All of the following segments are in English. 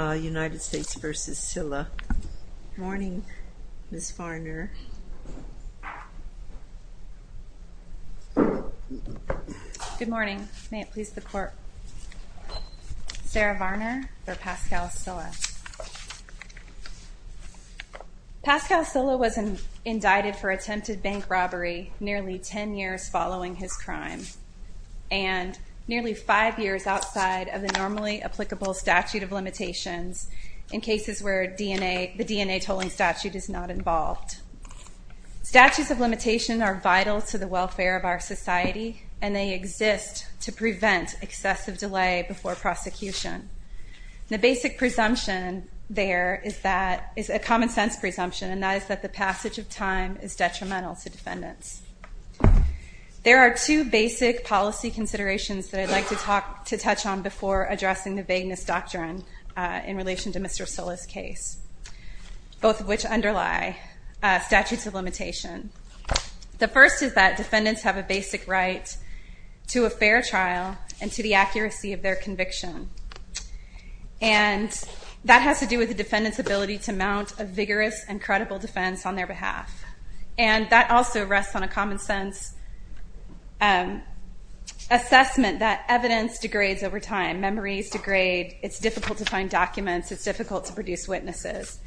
United States v. Sylla. Good morning, Ms. Varner. Good morning, may it please the court. Sarah Varner v. Pascal Sylla. Pascal Sylla was indicted for attempted bank robbery nearly 10 years following his crime and nearly five years outside of the normally applicable statute of limitations in cases where the DNA tolling statute is not involved. Statutes of limitation are vital to the welfare of our society and they exist to prevent excessive delay before prosecution. The basic presumption there is a common-sense presumption and that is that the passage of time is detrimental to defendants. There are two basic policy considerations that I'd like to talk to touch on before addressing the vagueness doctrine in relation to Mr. Sylla's case, both of which underlie statutes of limitation. The first is that defendants have a basic right to a fair trial and to the accuracy of their conviction and that has to do with the defendant's ability to mount a vigorous and credible defense on their behalf and that also rests on a common-sense assessment that evidence degrades over time, memories degrade, it's difficult to find documents, it's difficult to produce witnesses.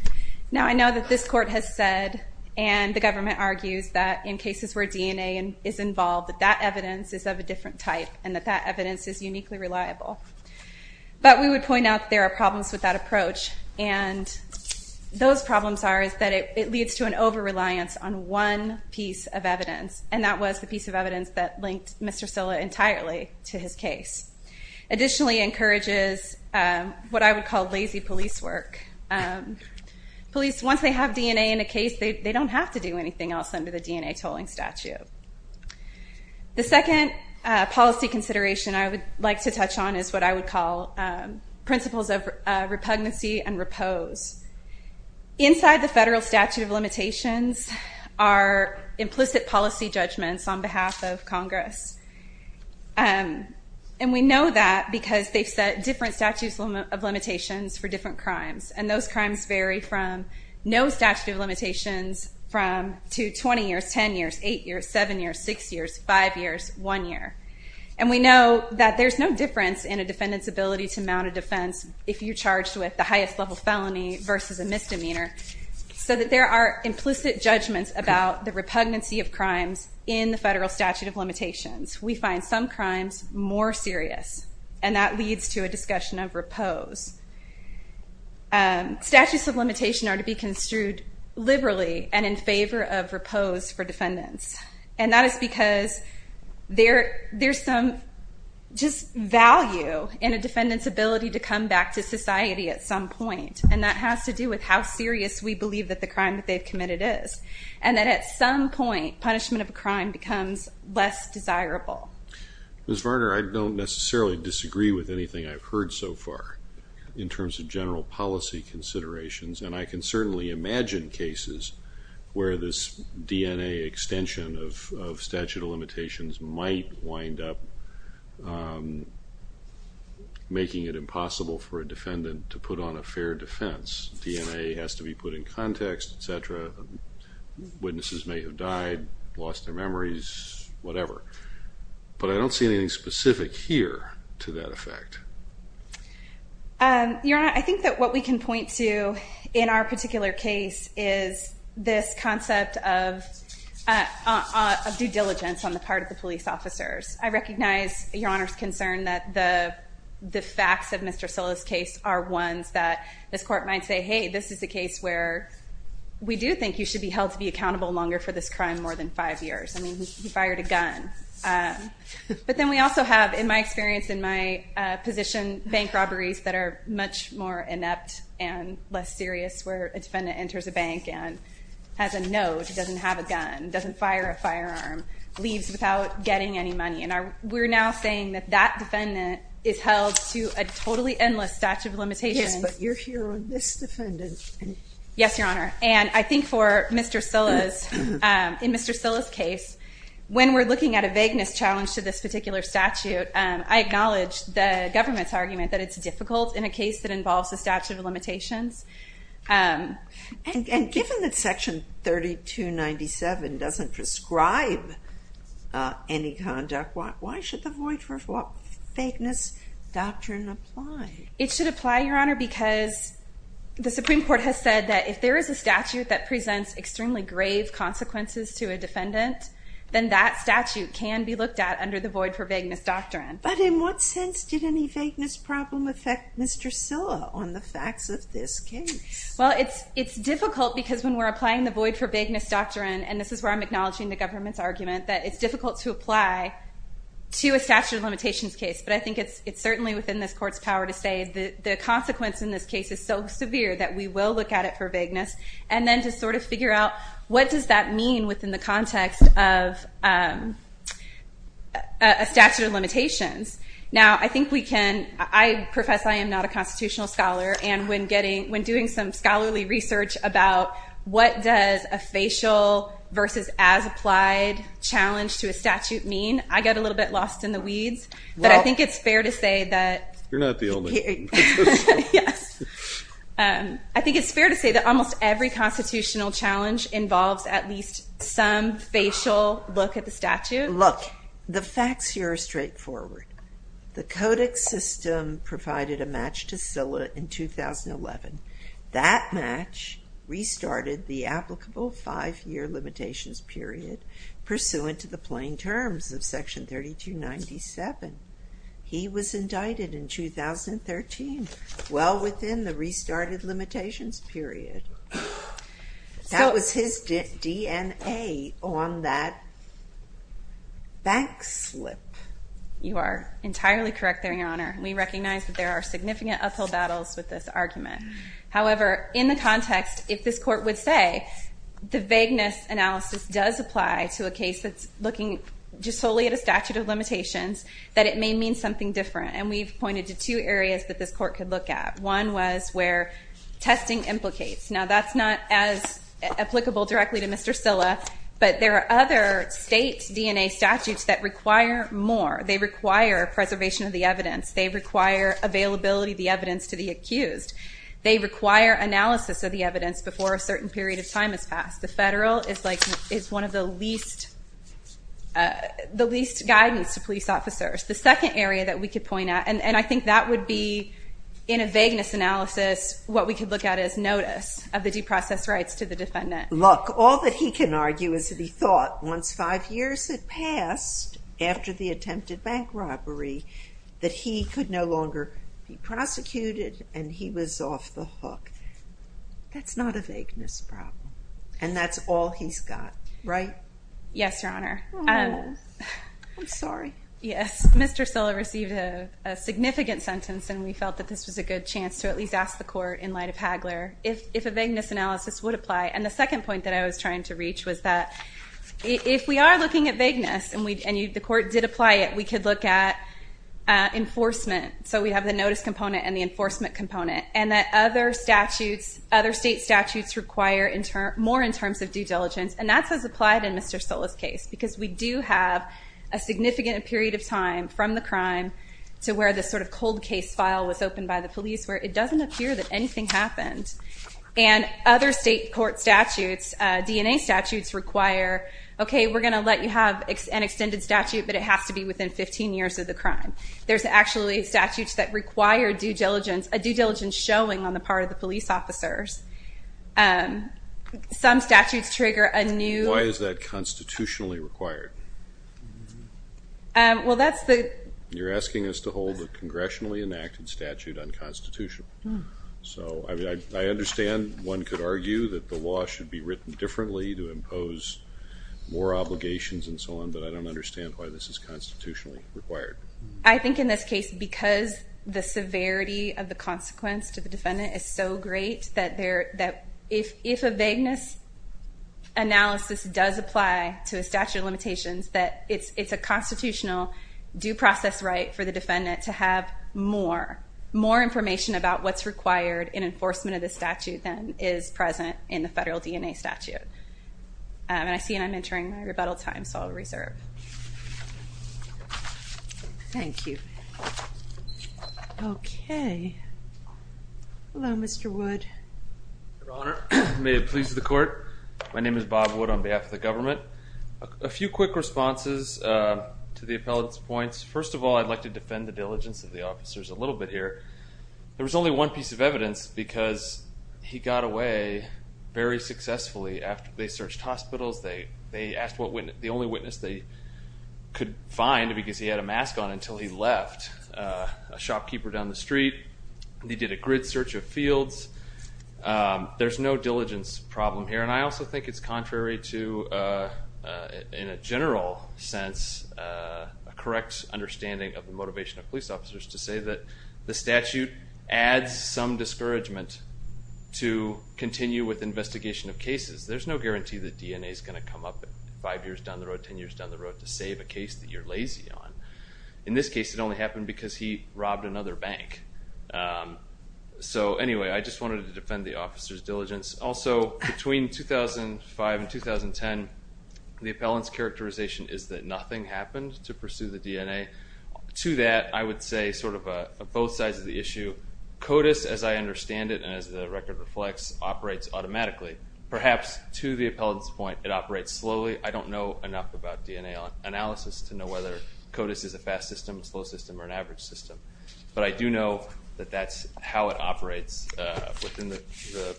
Now I know that this court has said and the government argues that in cases where DNA is involved that that evidence is of a different type and that that evidence is uniquely reliable. But we would point out there are problems with that approach and those problems are is that it leads to an over-reliance on one piece of evidence and that was the piece of evidence that linked Mr. Sylla entirely to his case. Additionally, it encourages what I would call lazy police work. Police, once they have DNA in a case, they don't have to do anything else under the DNA tolling statute. The second policy consideration I would like to touch on is what I would call principles of repugnancy and repose. Inside the implicit policy judgments on behalf of Congress and we know that because they've set different statutes of limitations for different crimes and those crimes vary from no statute of limitations from to 20 years, 10 years, 8 years, 7 years, 6 years, 5 years, 1 year. And we know that there's no difference in a defendant's ability to mount a defense if you're charged with the highest level felony versus a misdemeanor so that there are implicit judgments about the repugnancy of crimes in the federal statute of limitations. We find some crimes more serious and that leads to a discussion of repose. Statutes of limitation are to be construed liberally and in favor of repose for defendants and that is because there there's some just value in a defendant's ability to come back to us. It has to do with how serious we believe that the crime that they've committed is and that at some point punishment of a crime becomes less desirable. Ms. Varner, I don't necessarily disagree with anything I've heard so far in terms of general policy considerations and I can certainly imagine cases where this DNA extension of statute of limitations might wind up making it impossible for a defendant to put on a fair defense. DNA has to be put in context, etc. Witnesses may have died, lost their memories, whatever. But I don't see anything specific here to that effect. Your Honor, I think that what we can point to in our particular case is this concept of due diligence on the part of police officers. I recognize Your Honor's concern that the facts of Mr. Silla's case are ones that this court might say, hey this is a case where we do think you should be held to be accountable longer for this crime more than five years. I mean, he fired a gun. But then we also have, in my experience, in my position, bank robberies that are much more inept and less serious where a defendant enters a bank and has a note, doesn't have a gun, doesn't fire a gun, and is not getting any money. And we're now saying that that defendant is held to a totally endless statute of limitations. Yes, but you're here on this defendant. Yes, Your Honor. And I think for Mr. Silla's, in Mr. Silla's case, when we're looking at a vagueness challenge to this particular statute, I acknowledge the government's argument that it's difficult in a case that involves a statute that presents extremely grave consequences to a defendant, then that statute can be looked at under the void for vagueness doctrine. But in what sense did any vagueness problem affect Mr. Silla on the facts of this case? Well, it's difficult because when we're applying the void for vagueness doctrine, and this is where I'm acknowledging the government's argument, that it's difficult to apply to a statute of limitations case. But I think it's certainly within this court's power to say that the consequence in this case is so severe that we will look at it for vagueness, and then to sort of figure out what does that mean within the context of a statute of limitations. Now, I think we can, I profess I am not a constitutional scholar, and when getting, when doing some scholarly research about what does a facial versus as-applied challenge to a statute mean, I get a little bit lost in the weeds, but I think it's fair to say that... You're not the only one. I think it's fair to say that almost every constitutional challenge involves at least some facial look at the statute. Look, the facts here are straightforward. The codex system provided a match to that match restarted the applicable five-year limitations period pursuant to the plain terms of section 3297. He was indicted in 2013, well within the restarted limitations period. That was his DNA on that bank slip. You are entirely correct there, Your Honor. We recognize that there are significant uphill battles with this argument. However, in the context, if this court would say the vagueness analysis does apply to a case that's looking just solely at a statute of limitations, that it may mean something different, and we've pointed to two areas that this court could look at. One was where testing implicates. Now, that's not as applicable directly to Mr. Silla, but there are other state DNA statutes that require more. They require preservation of the evidence. They require availability of the evidence to the accused. They require analysis of the evidence before a certain period of time has passed. The federal is one of the least guidance to police officers. The second area that we could point at, and I think that would be, in a vagueness analysis, what we could look at as notice of the due process rights to the defendant. Look, all that he can argue is that he thought once five years had passed after the attempted bank robbery, that he could no longer be prosecuted and he was off the hook. That's not a vagueness problem, and that's all he's got, right? Yes, Your Honor. I'm sorry. Yes, Mr. Silla received a significant sentence and we felt that this was a good chance to at least ask the court, in light of Hagler, if a vagueness analysis would apply. And the second point that I was trying to reach was that if we are looking at vagueness and the court did apply it, we could look at enforcement. So we have the notice component and the enforcement component. And that other statutes, other state statutes require more in terms of due diligence. And that's as applied in Mr. Silla's case, because we do have a significant period of time from the crime to where the sort of cold case file was opened by the police, where it doesn't appear that anything happened. And other state court statutes, DNA statutes, require, okay, we're going to let you have an extended statute, but it has to be within 15 years of the crime. There's actually statutes that require due diligence, a due diligence showing on the part of the police officers. Some statutes trigger a new... Why is that constitutionally required? Well, that's the... You're asking us to hold a congressionally enacted statute unconstitutional. So I understand one could argue that the law should be written differently to impose more obligations and so on, but I don't understand why this is constitutionally required. I think in this case, because the severity of the consequence to the defendant is so great that if a vagueness analysis does apply to a statute of limitations, that it's a constitutional due process right for the defendant to have more information about what's required in enforcement of the statute than is present in the federal DNA statute. And I see that I'm entering my rebuttal time, so I'll reserve. Thank you. Okay. Hello, Mr. Wood. Your Honor, may it please the court. My name is Bob Wood on behalf of the government. A few quick responses to the appellate's points. First of all, I'd like to defend the diligence of the officers a little bit here. There was only one piece of evidence because he got away very successfully after they searched hospitals. They asked the only witness they could find because he had a mask on until he left, a shopkeeper down the street. He did a grid search of fields. There's no diligence problem here. And I also think it's contrary to, in a general sense, a correct understanding of the motivation of police officers to say that the statute adds some discouragement to continue with investigation of cases. There's no guarantee that DNA is going to come up five years down the road, 10 years down the road to save a case that you're lazy on. In this case, it only happened because he robbed another bank. So anyway, I just wanted to defend the officer's diligence. Also, between 2005 and 2010, the appellant's characterization is that nothing happened to pursue the DNA. To that, I would say sort of both sides of the issue. CODIS, as I understand it, and as the record reflects, operates automatically. Perhaps to the appellant's point, it operates slowly. I don't know enough about DNA analysis to know whether CODIS is a fast system, a slow system, or an average system. But I do know that that's how it operates within the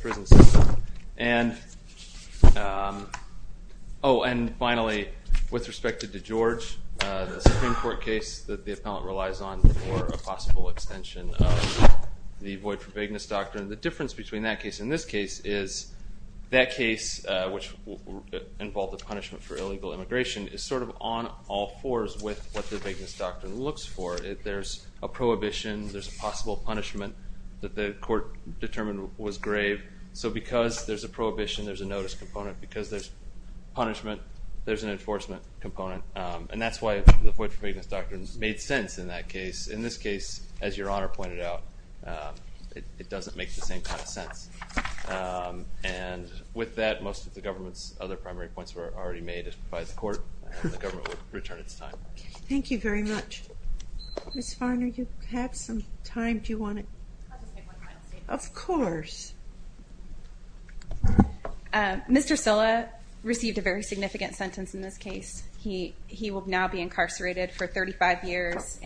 prison system. And finally, with respect to DeGeorge, the Supreme Court case that the appellant relies on for a possible extension of the void for vagueness doctrine, the difference between that case and this case is that case, which involved the punishment for illegal immigration, is sort of on all fours with what the vagueness doctrine looks for. There's a prohibition, there's a possible punishment that the court determined was grave. So because there's a prohibition, there's a notice component. Because there's punishment, there's an enforcement component. And that's why the void for vagueness doctrine made sense in that case. In this case, as your Honor pointed out, it doesn't make the same kind of sense. And with that, most of the government's other primary points were already made by the court, and the government would return its time. Thank you very much. Ms. Farner, you have some time. Do you want to? Of course. Mr. Silla received a very significant sentence in this case. He will now be incarcerated for 80 years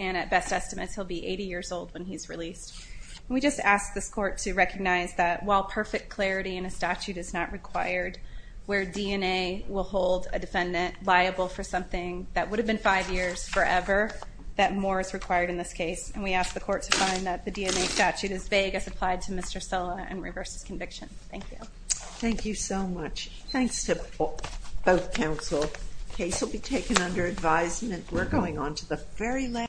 old when he's released. We just ask this court to recognize that while perfect clarity in a statute is not required, where DNA will hold a defendant liable for something that would have been five years forever, that more is required in this case. And we ask the court to find that the DNA statute is vague as applied to Mr. Silla and reverse his conviction. Thank you. Thank you so much. Thanks to both counsel. The case will be taken under advisement. We're going on to the very